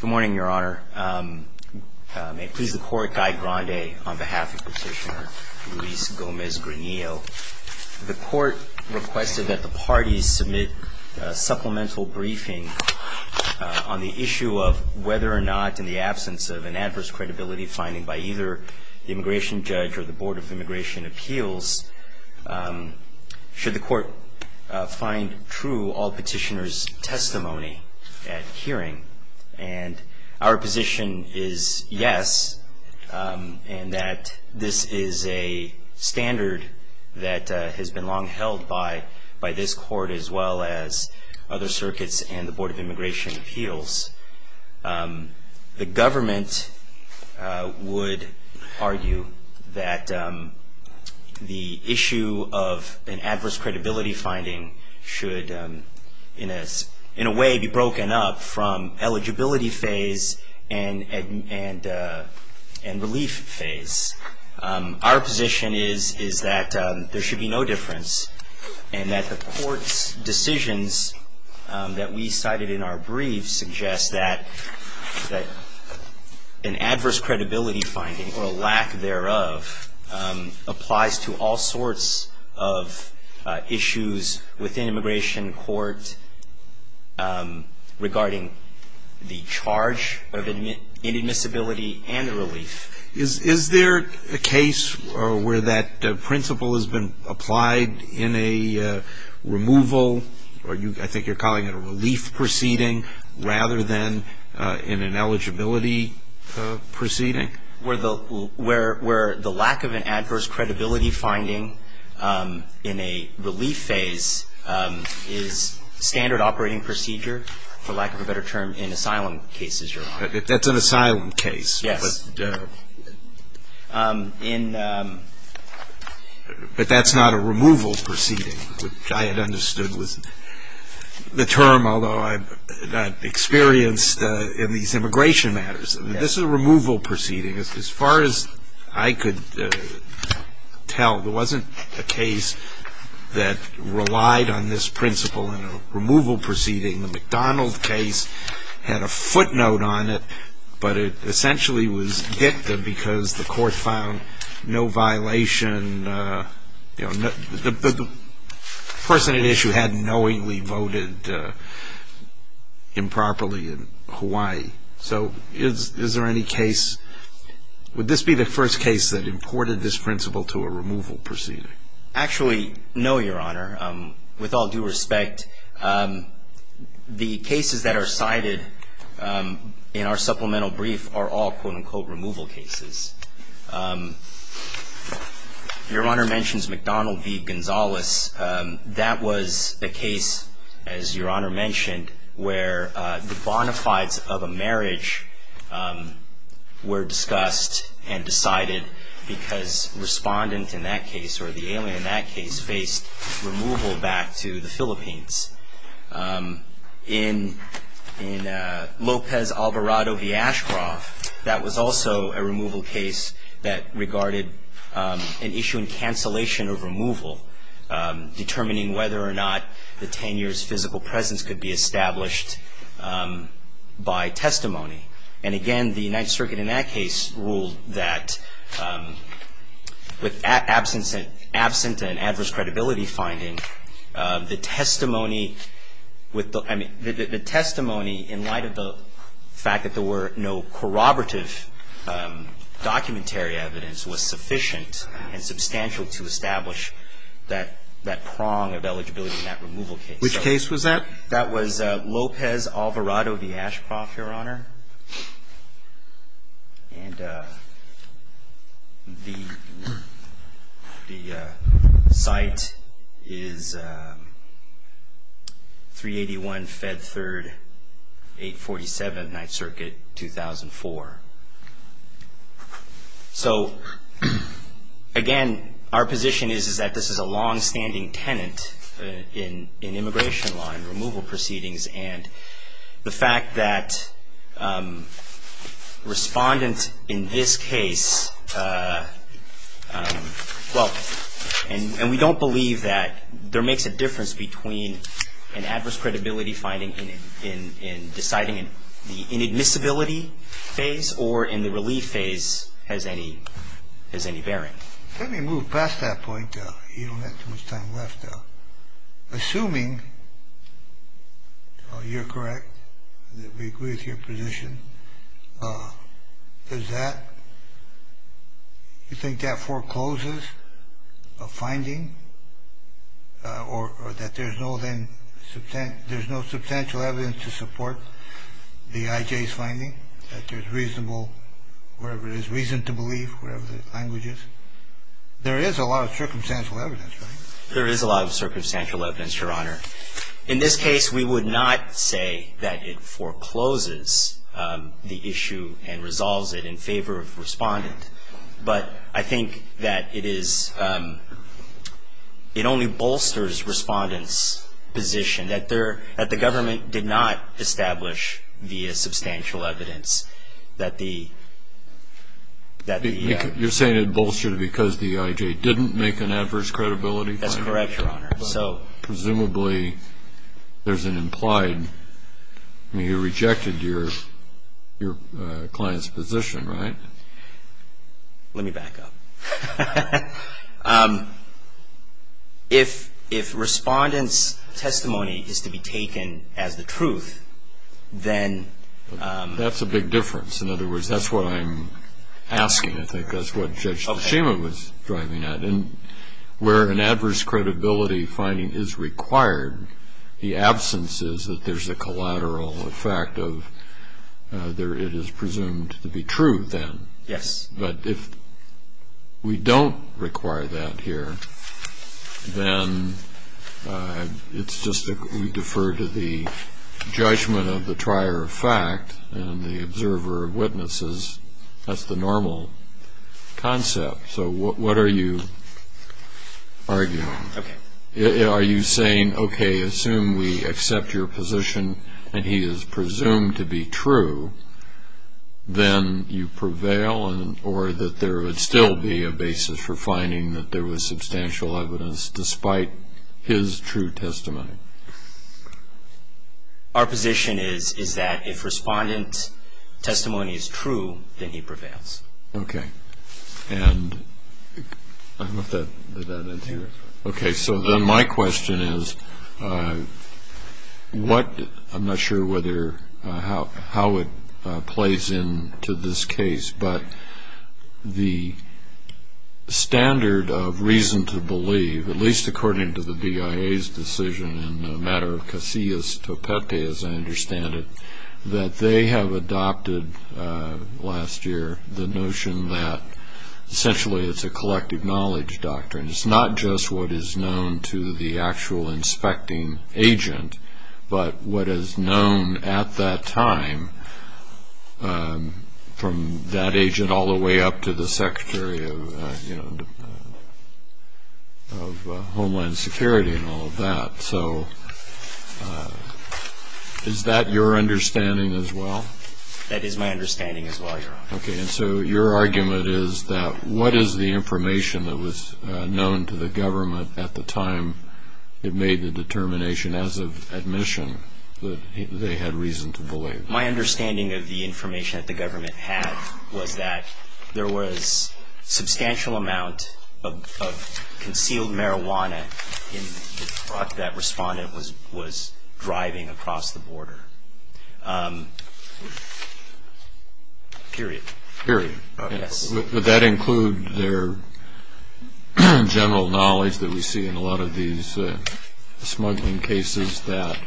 Good morning, Your Honor. May it please the Court, Guy Grande on behalf of Petitioner Luis Gomez-Granillo. The Court requested that the parties submit a supplemental briefing on the issue of whether or not, in the absence of an adverse credibility finding by either the immigration judge or the Board of Immigration Appeals, should the Court find true all petitioner's testimony at hearing. And our position is yes, and that this is a standard that has been long held by this Court as well as other circuits and the Board of Immigration Appeals. The government would argue that the issue of an adverse credibility finding should, in a way, be broken up from eligibility phase and relief phase. Our position is that there should be no difference, and that the Court's decisions that we cited in our briefs suggest that an adverse credibility finding or a lack thereof applies to all sorts of issues within immigration court regarding the charge of inadmissibility and the relief. Is there a case where that principle has been applied in a removal, or I think you're calling it a relief proceeding, rather than in an eligibility proceeding? Where the lack of an adverse credibility finding in a relief phase is standard operating procedure, for lack of a better term, in asylum cases, Your Honor. That's an asylum case. Yes. But that's not a removal proceeding, which I had understood was the term, although I'm not experienced in these immigration matters. This is a removal proceeding. As far as I could tell, there wasn't a case that relied on this principle in a removal proceeding. The McDonald case had a footnote on it, but it essentially was dicta because the Court found no violation. The person at issue had knowingly voted improperly in Hawaii. So is there any case, would this be the first case that imported this principle to a removal proceeding? Actually, no, Your Honor. With all due respect, the cases that are cited in our supplemental brief are all, quote-unquote, removal cases. Your Honor mentions McDonald v. Gonzales. That was a case, as Your Honor mentioned, where the bona fides of a marriage were discussed and decided because respondent in that case, or the alien in that case, faced removal back to the Philippines. In Lopez Alvarado v. Ashcroft, that was also a removal case that regarded an issue in cancellation of removal. That was a case in which there was no evidence of corroborative documentary evidence determining whether or not the tenure's physical presence could be established by testimony. And again, the United Circuit in that case ruled that with absent and adverse credibility finding, the testimony in light of the fact that there were no corroborative documentary evidence was sufficient and substantial to establish that there was no corroborative evidence. And we were not given that prong of eligibility in that removal case. Which case was that? That was Lopez Alvarado v. Ashcroft, Your Honor. And the fact that the defendant is the main tenant in immigration law and removal proceedings, and the fact that respondent in this case, well, and we don't believe that there makes a difference between an adverse credibility finding in deciding in the inadmissibility phase or in the relief phase has any bearing. Well, I guess I'm just assuming you're correct, that we agree with your position. Does that, you think that forecloses a finding or that there's no then, there's no substantial evidence to support the IJ's finding? That there's reasonable, whatever it is, reason to believe, whatever the language is? There is a lot of circumstantial evidence, right? There is a lot of circumstantial evidence, Your Honor. In this case, we would not say that it forecloses the issue and resolves it in favor of the respondent. But I think that it is, it only bolsters respondent's position, that the government did not establish via substantial evidence that the You're saying it bolstered because the IJ didn't make an adverse credibility finding? That's correct, Your Honor. Presumably, there's an implied, you rejected your client's position, right? Let me back up. If respondent's testimony is to be taken as the truth, then That's a big difference. In other words, that's what I'm asking. I think that's what Judge Tashima was driving at. Where an adverse credibility finding is required, the absence is that there's a collateral effect of, it is presumed to be true then. Yes. But if we don't require that here, then it's just that we defer to the judgment of the trier of fact and the observer of witnesses. That's the normal concept. So what are you arguing? Are you saying, okay, assume we accept your position and he is presumed to be true, then you prevail? Or that there would still be a basis for finding that there was substantial evidence despite his true testimony? Our position is that if respondent's testimony is true, then he prevails. Okay. So then my question is, I'm not sure how it plays into this case, but the standard of reason to believe, at least according to the BIA's decision in the matter of Casillas-Topepe, as I understand it, that they have adopted last year the notion that essentially it's a collective knowledge doctrine. It's not just what is known to the actual inspecting agent, but what is known at that time from that agent all the way up to the Secretary of Homeland Security and all of that. So is that your understanding as well? That is my understanding as well, Your Honor. Okay. And so your argument is that what is the information that was known to the government at the time it made the determination as of admission that they had reason to believe? My understanding of the information that the government had was that there was substantial amount of concealed marijuana in the truck that was being used and that the respondent was driving across the border. Period. Period. Would that include their general knowledge that we see in a lot of these smuggling cases that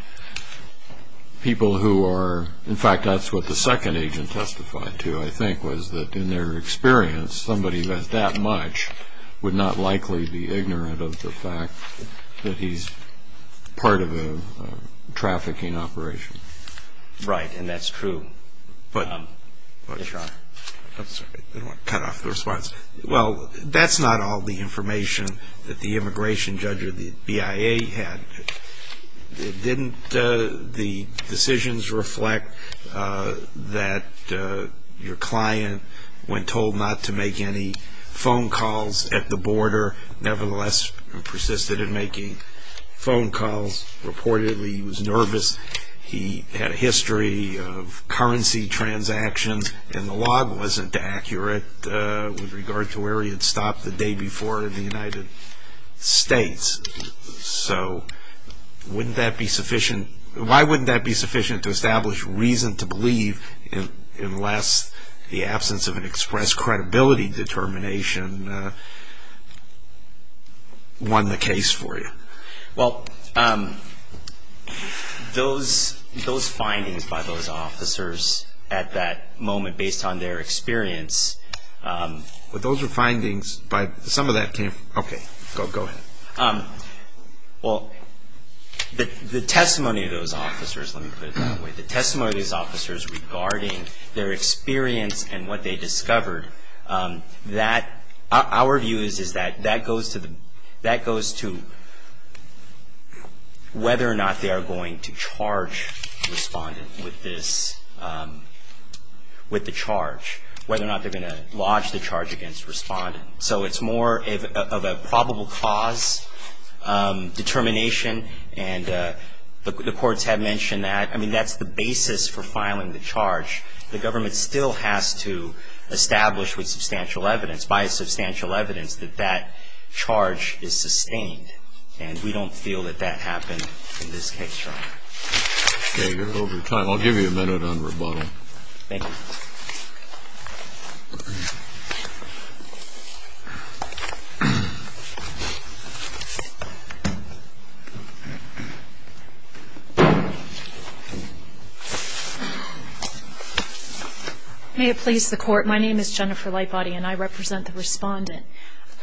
people who are... In fact, that's what the second agent testified to, I think, was that in their experience, somebody that that much would not likely be ignorant of the fact that he's part of a trafficking operation. Right. And that's true. Cut off the response. Well, that's not all the information that the immigration judge or the BIA had. Didn't the decisions reflect that your client, when told not to make use of marijuana, didn't make any phone calls at the border, nevertheless persisted in making phone calls? Reportedly, he was nervous. He had a history of currency transactions, and the log wasn't accurate with regard to where he had stopped the day before in the United States. So wouldn't that be sufficient... Why wouldn't that be sufficient to establish reason to believe unless the absence of an express credibility determination won the case for you? Well, those findings by those officers at that moment, based on their experience... But those were findings by... Some of that came... Okay, go ahead. Well, the testimony of those officers... Let me put it that way. The testimony of those officers regarding their experience and what they discovered, our view is that that goes to whether or not they are going to charge the respondent with the charge, whether or not they are going to lodge the charge against the respondent. So it's more of a probable cause determination, and the courts have mentioned that. I mean, that's the basis for filing the charge. The government still has to establish with substantial evidence, by substantial evidence, that that charge is sustained, and we don't feel that that happened in this case, Your Honor. Okay, you're over time. I'll give you a minute on rebuttal. Thank you. May it please the Court, my name is Jennifer Lightbody, and I represent the respondent.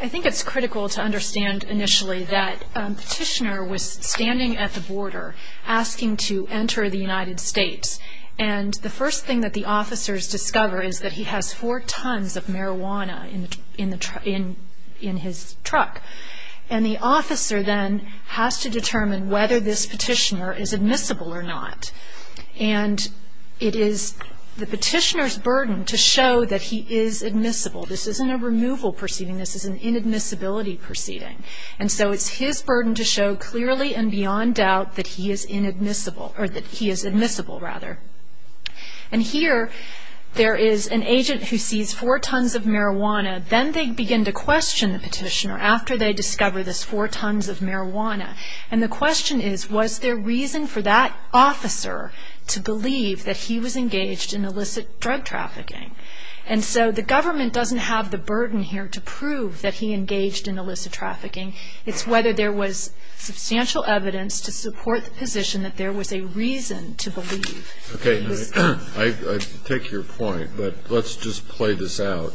I think it's critical to understand initially that Petitioner was standing at the border, asking to enter the United States, and the first thing that the officers discover is that he has four tons of marijuana in his truck. And the officer then has to determine whether this Petitioner is admissible or not. And it is the Petitioner's burden to show that he is admissible. This isn't a removal proceeding, this is an inadmissibility proceeding. And so it's his burden to show clearly and beyond doubt that he is admissible. And here there is an agent who sees four tons of marijuana, then they begin to question the Petitioner after they discover this four tons of marijuana. And the question is, was there reason for that officer to believe that he was engaged in illicit drug trafficking? And so the government doesn't have the burden here to prove that he engaged in illicit trafficking. It's whether there was substantial evidence to support the position that there was a reason to believe. Okay. I take your point, but let's just play this out.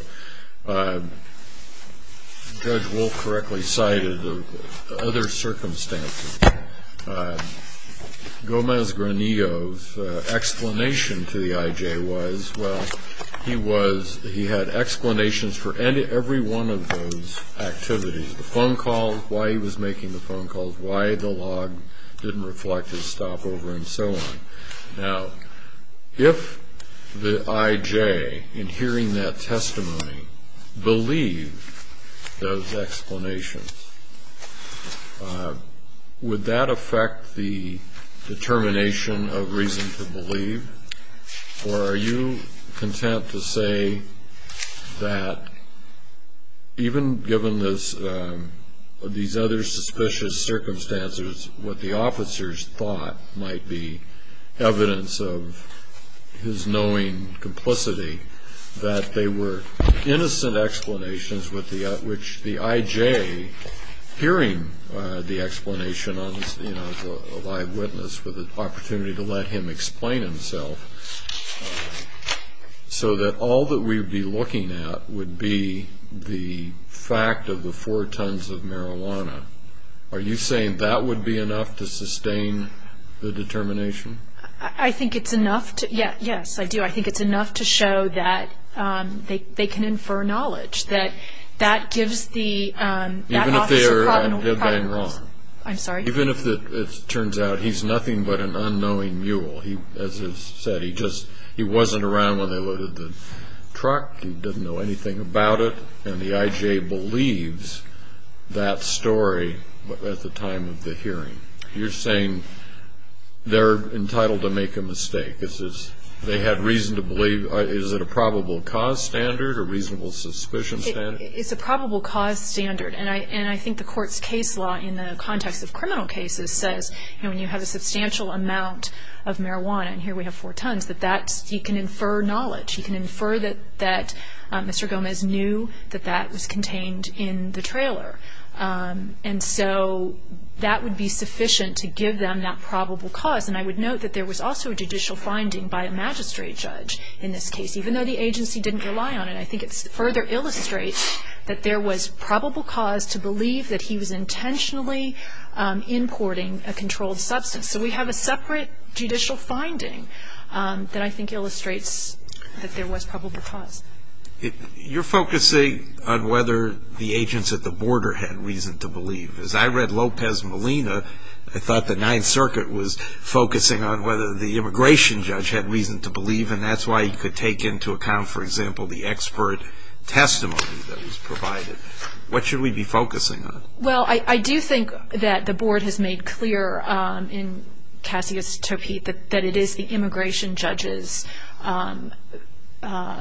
Judge Wolf correctly cited other circumstances. Gomez Granillo's explanation to the I.J. was, well, he had explanations for every one of those activities. The phone calls, why he was making the phone calls, why the log didn't reflect his stopover, and so on. Now, if the I.J., in hearing that testimony, believed those explanations, would that affect the determination of reason to believe? Or are you content to say that even given these other suspicious circumstances, what the officers thought might be evidence of his knowing complicity, that they were innocent explanations which the I.J., hearing the explanation as a live witness, with an opportunity to let him explain himself, so that all that we would be looking at would be the fact of the four tons of marijuana? Are you saying that would be enough to sustain the determination? I think it's enough to, yes, I do. I think it's enough to show that they can infer knowledge. That that gives the officer problem. Even if they're wrong. I'm sorry? Even if it turns out he's nothing but an unknowing mule. As is said, he wasn't around when they loaded the truck. He didn't know anything about it. And the I.J. believes that story at the time of the hearing. You're saying they're entitled to make a mistake. They had reason to believe. Is it a probable cause standard or reasonable suspicion standard? It's a probable cause standard. And I think the court's case law in the context of criminal cases says, when you have a substantial amount of marijuana, and here we have four tons, that you can infer knowledge. And so that would be sufficient to give them that probable cause. And I would note that there was also a judicial finding by a magistrate judge in this case, even though the agency didn't rely on it. I think it further illustrates that there was probable cause to believe that he was intentionally importing a controlled substance. So we have a separate judicial finding that I think illustrates that there was probable cause. You're focusing on whether the agents at the border had reason to believe. As I read Lopez Molina, I thought the Ninth Circuit was focusing on whether the immigration judge had reason to believe, and that's why you could take into account, for example, the expert testimony that was provided. What should we be focusing on? Well, I do think that the board has made clear in Cassius Topete that it is the I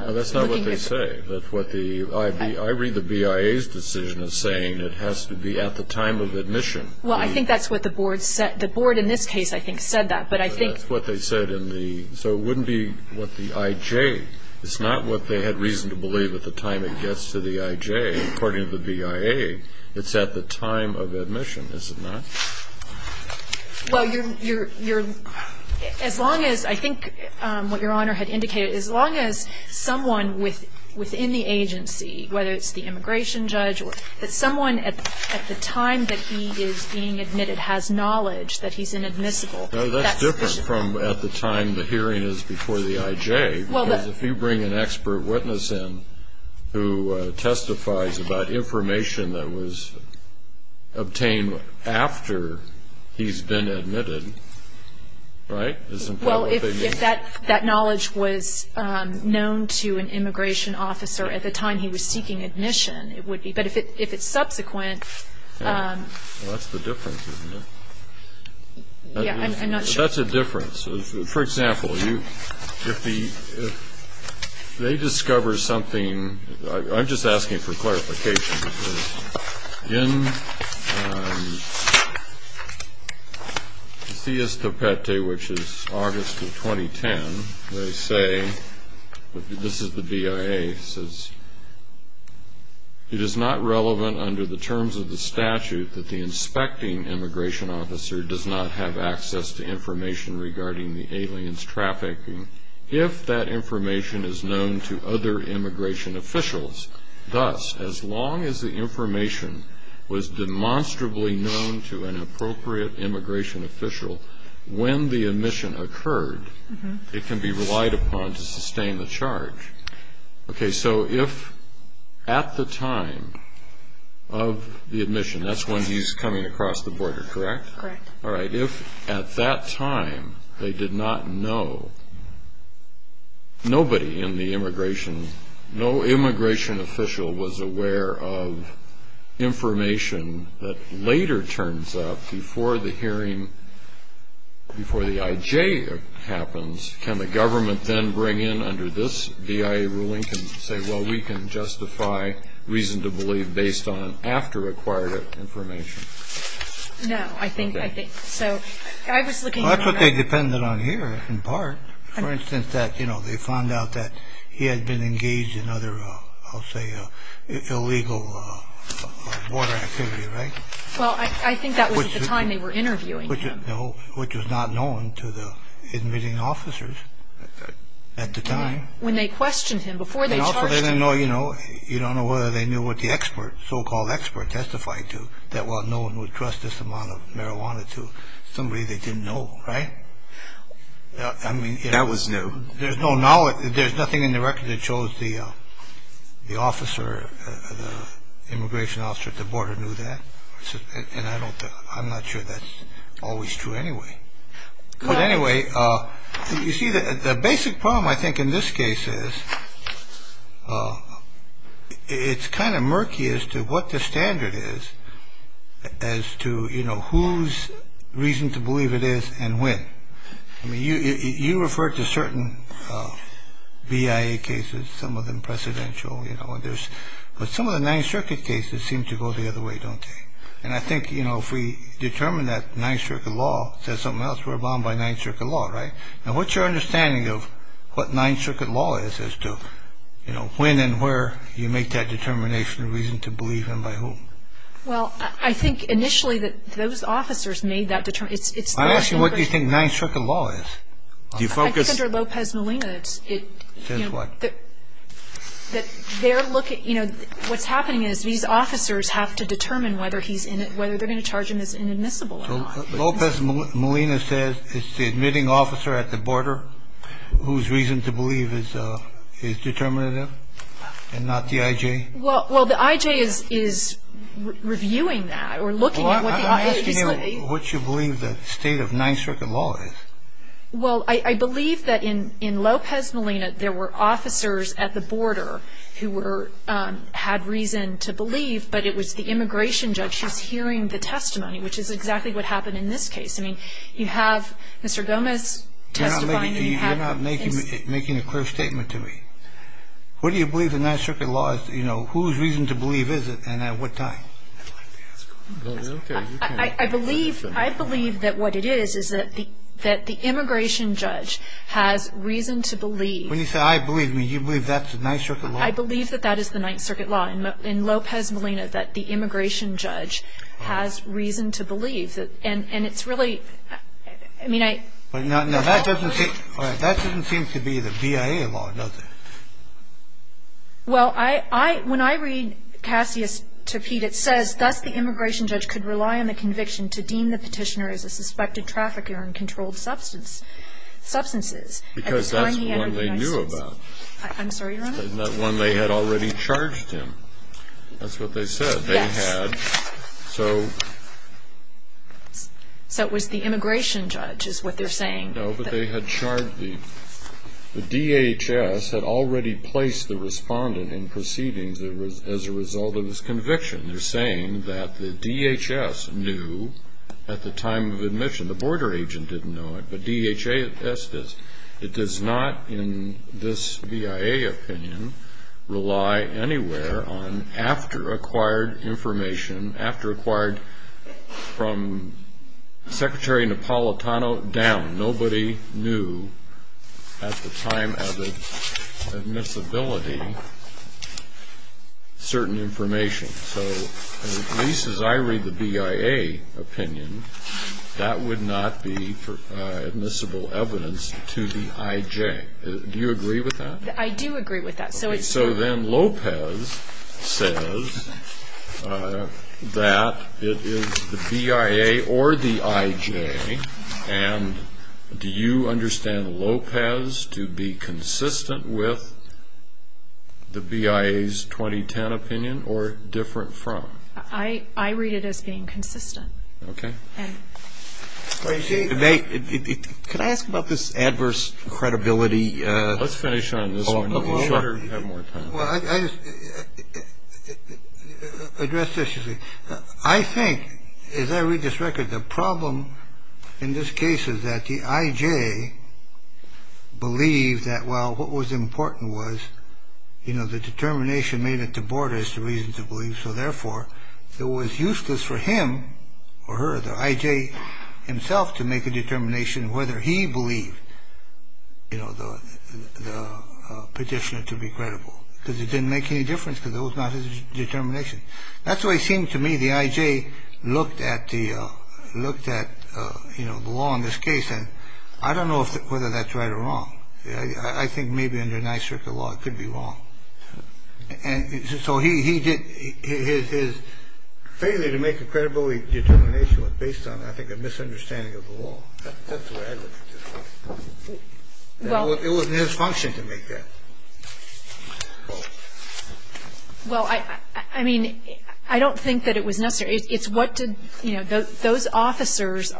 read the BIA's decision as saying it has to be at the time of admission. Well, I think that's what the board said. The board in this case, I think, said that. But I think. That's what they said in the. So it wouldn't be what the IJ. It's not what they had reason to believe at the time it gets to the IJ, according to the BIA. It's at the time of admission, is it not? Well, as long as I think what Your Honor had indicated, as long as someone within the agency, whether it's the immigration judge or someone at the time that he is being admitted has knowledge that he's inadmissible. That's different from at the time the hearing is before the IJ. Because if you bring an expert witness in who testifies about information that was obtained after he's been admitted, right? Well, if that knowledge was known to an immigration officer at the time he was seeking admission, it would be. But if it's subsequent. Well, that's the difference, isn't it? Yeah, I'm not sure. That's a difference. For example, if they discover something. I'm just asking for clarification. In C.S. Topete, which is August of 2010, they say, this is the BIA, says, it is not relevant under the terms of the statute that the inspecting immigration officer does not have access to information regarding the aliens trafficking if that information is known to other immigration officials. Thus, as long as the information was demonstrably known to an appropriate immigration official when the admission occurred, it can be relied upon to sustain the charge. Okay, so if at the time of the admission, that's when he's coming across the border, correct? Correct. All right, if at that time they did not know, nobody in the immigration, no immigration official was aware of information that later turns up before the hearing, before the I.J. happens, can the government then bring in under this BIA ruling and say, well, we can justify reason to believe based on after-acquired information? No, I think so. I was looking. Well, that's what they depended on here in part. For instance, that, you know, they found out that he had been engaged in other, I'll say, illegal border activity, right? Well, I think that was at the time they were interviewing him. No, which was not known to the admitting officers at the time. When they questioned him before they charged him. And also they didn't know, you know, you don't know whether they knew what the expert, so-called expert testified to, that while no one would trust this amount of marijuana to somebody they didn't know, right? That was new. There's no knowledge, there's nothing in the record that shows the officer, the immigration officer at the border knew that. And I don't, I'm not sure that's always true anyway. But anyway, you see, the basic problem I think in this case is, it's kind of murky as to what the standard is as to, you know, whose reason to believe it is and when. I mean, you referred to certain BIA cases, some of them presidential, you know, and there's, but some of the Ninth Circuit cases seem to go the other way, don't they? And I think, you know, if we determine that Ninth Circuit law says something else, we're bound by Ninth Circuit law, right? Now, what's your understanding of what Ninth Circuit law is as to, you know, when and where you make that determination and reason to believe and by whom? Well, I think initially that those officers made that determination. I'm asking what you think Ninth Circuit law is. Do you focus? I think under Lopez-Molina it's, you know, that they're looking, you know, what's happening is these officers have to determine whether he's in it, whether they're going to charge him as inadmissible or not. So Lopez-Molina says it's the admitting officer at the border whose reason to believe is determinative and not the I.J.? Well, the I.J. is reviewing that or looking at what the I.J. says. Well, I'm asking you what you believe the state of Ninth Circuit law is. Well, I believe that in Lopez-Molina there were officers at the border who were, had reason to believe, but it was the immigration judge who's hearing the testimony, which is exactly what happened in this case. I mean, you have Mr. Gomez testifying. You're not making a clear statement to me. What do you believe the Ninth Circuit law is? You know, whose reason to believe is it and at what time? I believe that what it is is that the immigration judge has reason to believe. When you say I believe, do you believe that's the Ninth Circuit law? I believe that that is the Ninth Circuit law in Lopez-Molina, that the immigration judge has reason to believe. And it's really, I mean, I. But that doesn't seem to be the BIA law, does it? Well, when I read Cassius to Pete, it says, thus the immigration judge could rely on the conviction to deem the petitioner as a suspected trafficker in controlled substances. Because that's the one they knew about. I'm sorry, Your Honor? That's the one they had already charged him. That's what they said they had. Yes. So it was the immigration judge is what they're saying. No, but they had charged the DHS had already placed the respondent in proceedings as a result of his conviction. They're saying that the DHS knew at the time of admission. The border agent didn't know it. But DHS does. It does not, in this BIA opinion, rely anywhere on after-acquired information, after-acquired from Secretary Napolitano down. Nobody knew at the time of admissibility certain information. So at least as I read the BIA opinion, that would not be admissible evidence to the IJ. Do you agree with that? I do agree with that. So then Lopez says that it is the BIA or the IJ, and do you understand Lopez to be consistent with the BIA's 2010 opinion or different from? I read it as being consistent. Okay. Can I ask about this adverse credibility? Let's finish on this one. Well, I just address this. I think, as I read this record, the problem in this case is that the IJ believed that, well, what was important was, you know, the determination made at the border is the reason to believe. So, therefore, it was useless for him or her, the IJ himself, to make a determination whether he believed, you know, the petitioner to be credible, because it didn't make any difference because it was not his determination. That's the way it seemed to me the IJ looked at the law in this case, and I don't know whether that's right or wrong. I think maybe under Ninth Circuit law it could be wrong. So his failure to make a credibility determination was based on, I think, a misunderstanding of the law. That's the way I look at this. It wasn't his function to make that. Well, I mean, I don't think that it was necessary. It's what did, you know, those officers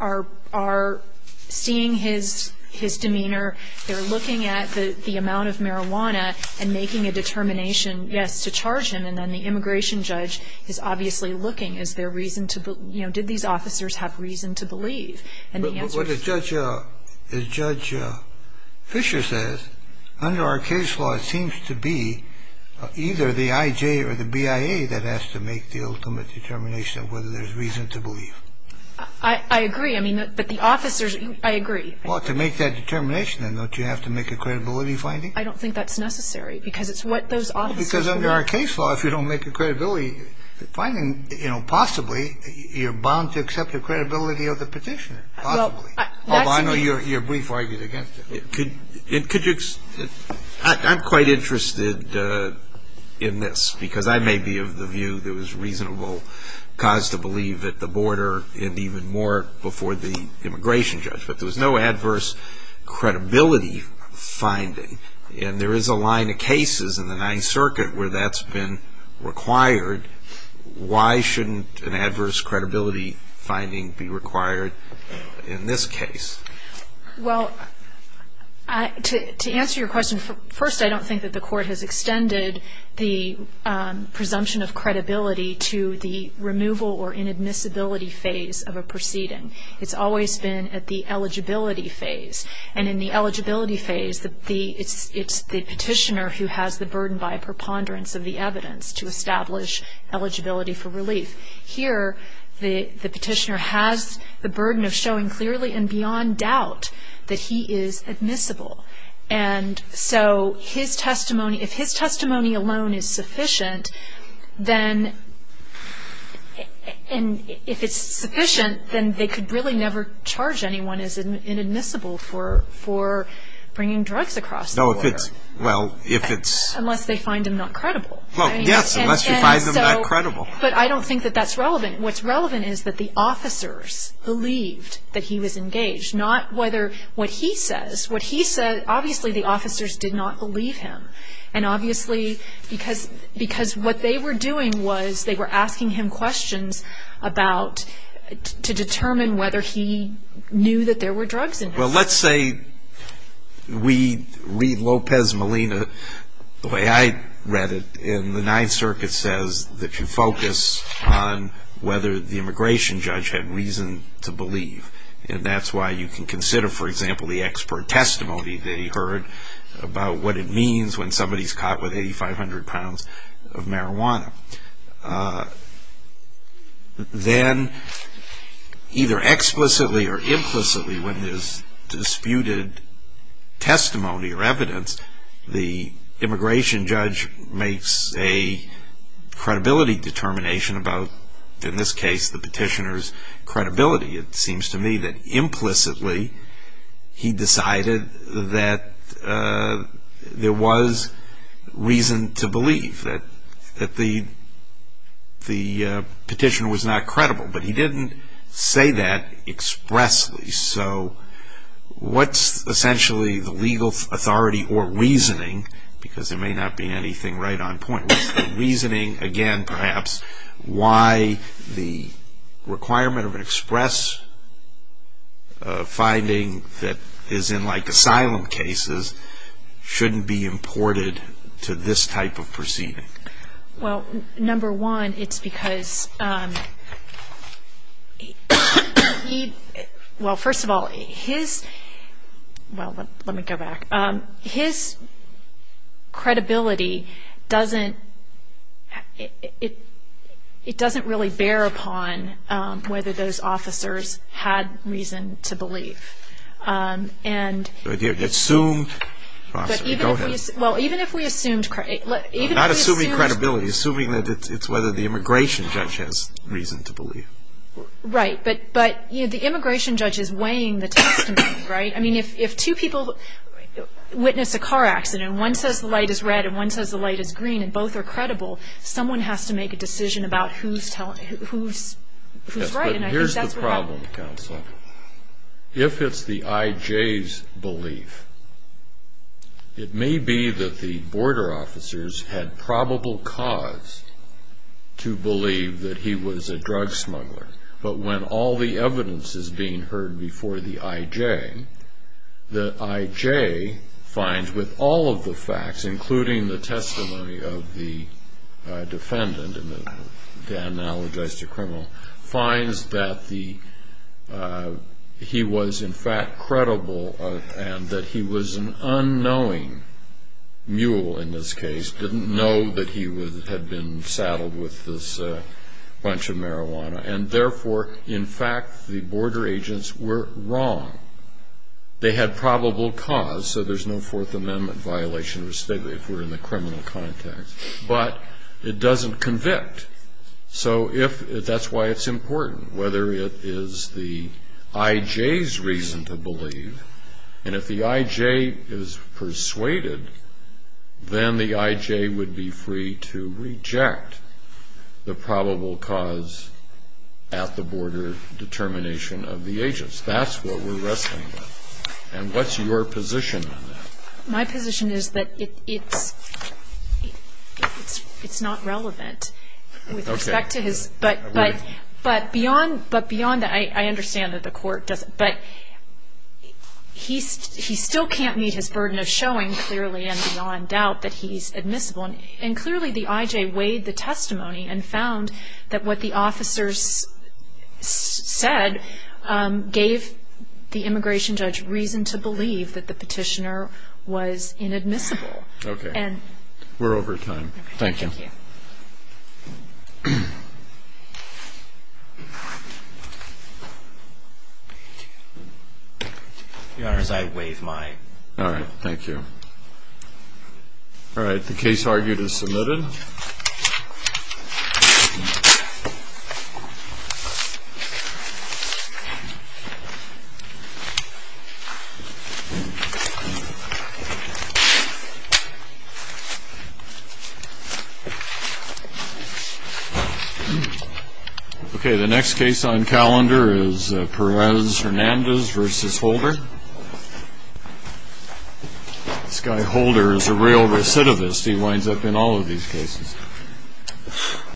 are seeing his demeanor. They're looking at the amount of marijuana and making a determination, yes, to charge him, and then the immigration judge is obviously looking. Is there reason to, you know, did these officers have reason to believe? And the answer is no. But what Judge Fischer says, under our case law, it seems to be either the IJ or the BIA that has to make the ultimate determination of whether there's reason to believe. I agree. I mean, but the officers, I agree. Well, to make that determination, then, don't you have to make a credibility finding? I don't think that's necessary because it's what those officers are doing. Well, because under our case law, if you don't make a credibility finding, you know, possibly you're bound to accept the credibility of the Petitioner, possibly. Although I know you're brief argued against it. Could you – I'm quite interested in this because I may be of the view there was reasonable cause to believe at the border and even more before the immigration judge. But there was no adverse credibility finding. And there is a line of cases in the Ninth Circuit where that's been required. Why shouldn't an adverse credibility finding be required in this case? Well, to answer your question, first I don't think that the Court has extended the presumption of credibility to the removal or inadmissibility phase of a proceeding. It's always been at the eligibility phase. And in the eligibility phase, it's the Petitioner who has the burden by a preponderance of the evidence to establish eligibility for relief. Here, the Petitioner has the burden of showing clearly and beyond doubt that he is admissible. And so his testimony – if his testimony alone is sufficient, then – and if it's sufficient, then they could really never charge anyone as inadmissible for bringing drugs across the border. No, if it's – well, if it's – Unless they find him not credible. Well, yes, unless you find him not credible. But I don't think that that's relevant. What's relevant is that the officers believed that he was engaged, not whether what he says. What he said, obviously the officers did not believe him. And obviously, because what they were doing was they were asking him questions about – to determine whether he knew that there were drugs in his house. Well, let's say we read Lopez Molina the way I read it, and the Ninth Circuit says that you focus on whether the immigration judge had reason to believe. And that's why you can consider, for example, the expert testimony they heard about what it means when somebody's caught with 8,500 pounds of marijuana. Then, either explicitly or implicitly, when there's disputed testimony or evidence, the immigration judge makes a credibility determination about, in this case, the petitioner's credibility. It seems to me that implicitly he decided that there was reason to believe, that the petitioner was not credible. But he didn't say that expressly. So what's essentially the legal authority or reasoning – because there may not be anything right on point – reasoning, again, perhaps, why the requirement of an express finding that is in, like, asylum cases shouldn't be imported to this type of proceeding? Well, number one, it's because he – well, first of all, his – well, let me go back. His credibility doesn't – it doesn't really bear upon whether those officers had reason to believe. And – But you assumed – Go ahead. Well, even if we assumed – Not assuming credibility. Assuming that it's whether the immigration judge has reason to believe. Right. But, you know, the immigration judge is weighing the testimony, right? I mean, if two people witness a car accident and one says the light is red and one says the light is green and both are credible, someone has to make a decision about who's telling – who's right. And I think that's what happened. Yes, but here's the problem, counsel. If it's the IJ's belief, it may be that the border officers had probable cause to believe that he was a drug smuggler. But when all the evidence is being heard before the IJ, the IJ finds with all of the facts, including the testimony of the defendant and the analogized criminal, finds that the – he was in fact credible and that he was an unknowing mule in this case, didn't know that he had been saddled with this bunch of marijuana. And therefore, in fact, the border agents were wrong. They had probable cause, so there's no Fourth Amendment violation of a statement if we're in the criminal context. But it doesn't convict. So if – that's why it's important, whether it is the IJ's reason to believe. And if the IJ is persuaded, then the IJ would be free to reject the probable cause at the border determination of the agents. That's what we're wrestling with. And what's your position on that? My position is that it's not relevant with respect to his – but beyond that, I understand that the court doesn't – but he still can't meet his burden of showing, clearly and beyond doubt, that he's admissible. And clearly the IJ weighed the testimony and found that what the officers said gave the immigration judge reason to believe that the petitioner was inadmissible. Okay. We're over time. Thank you. Thank you. Your Honors, I waive my… All right. Thank you. All right. The case argued is submitted. Okay, the next case on calendar is Perez-Hernandez v. Holder. This guy Holder is a real recidivist. He winds up in all of these cases.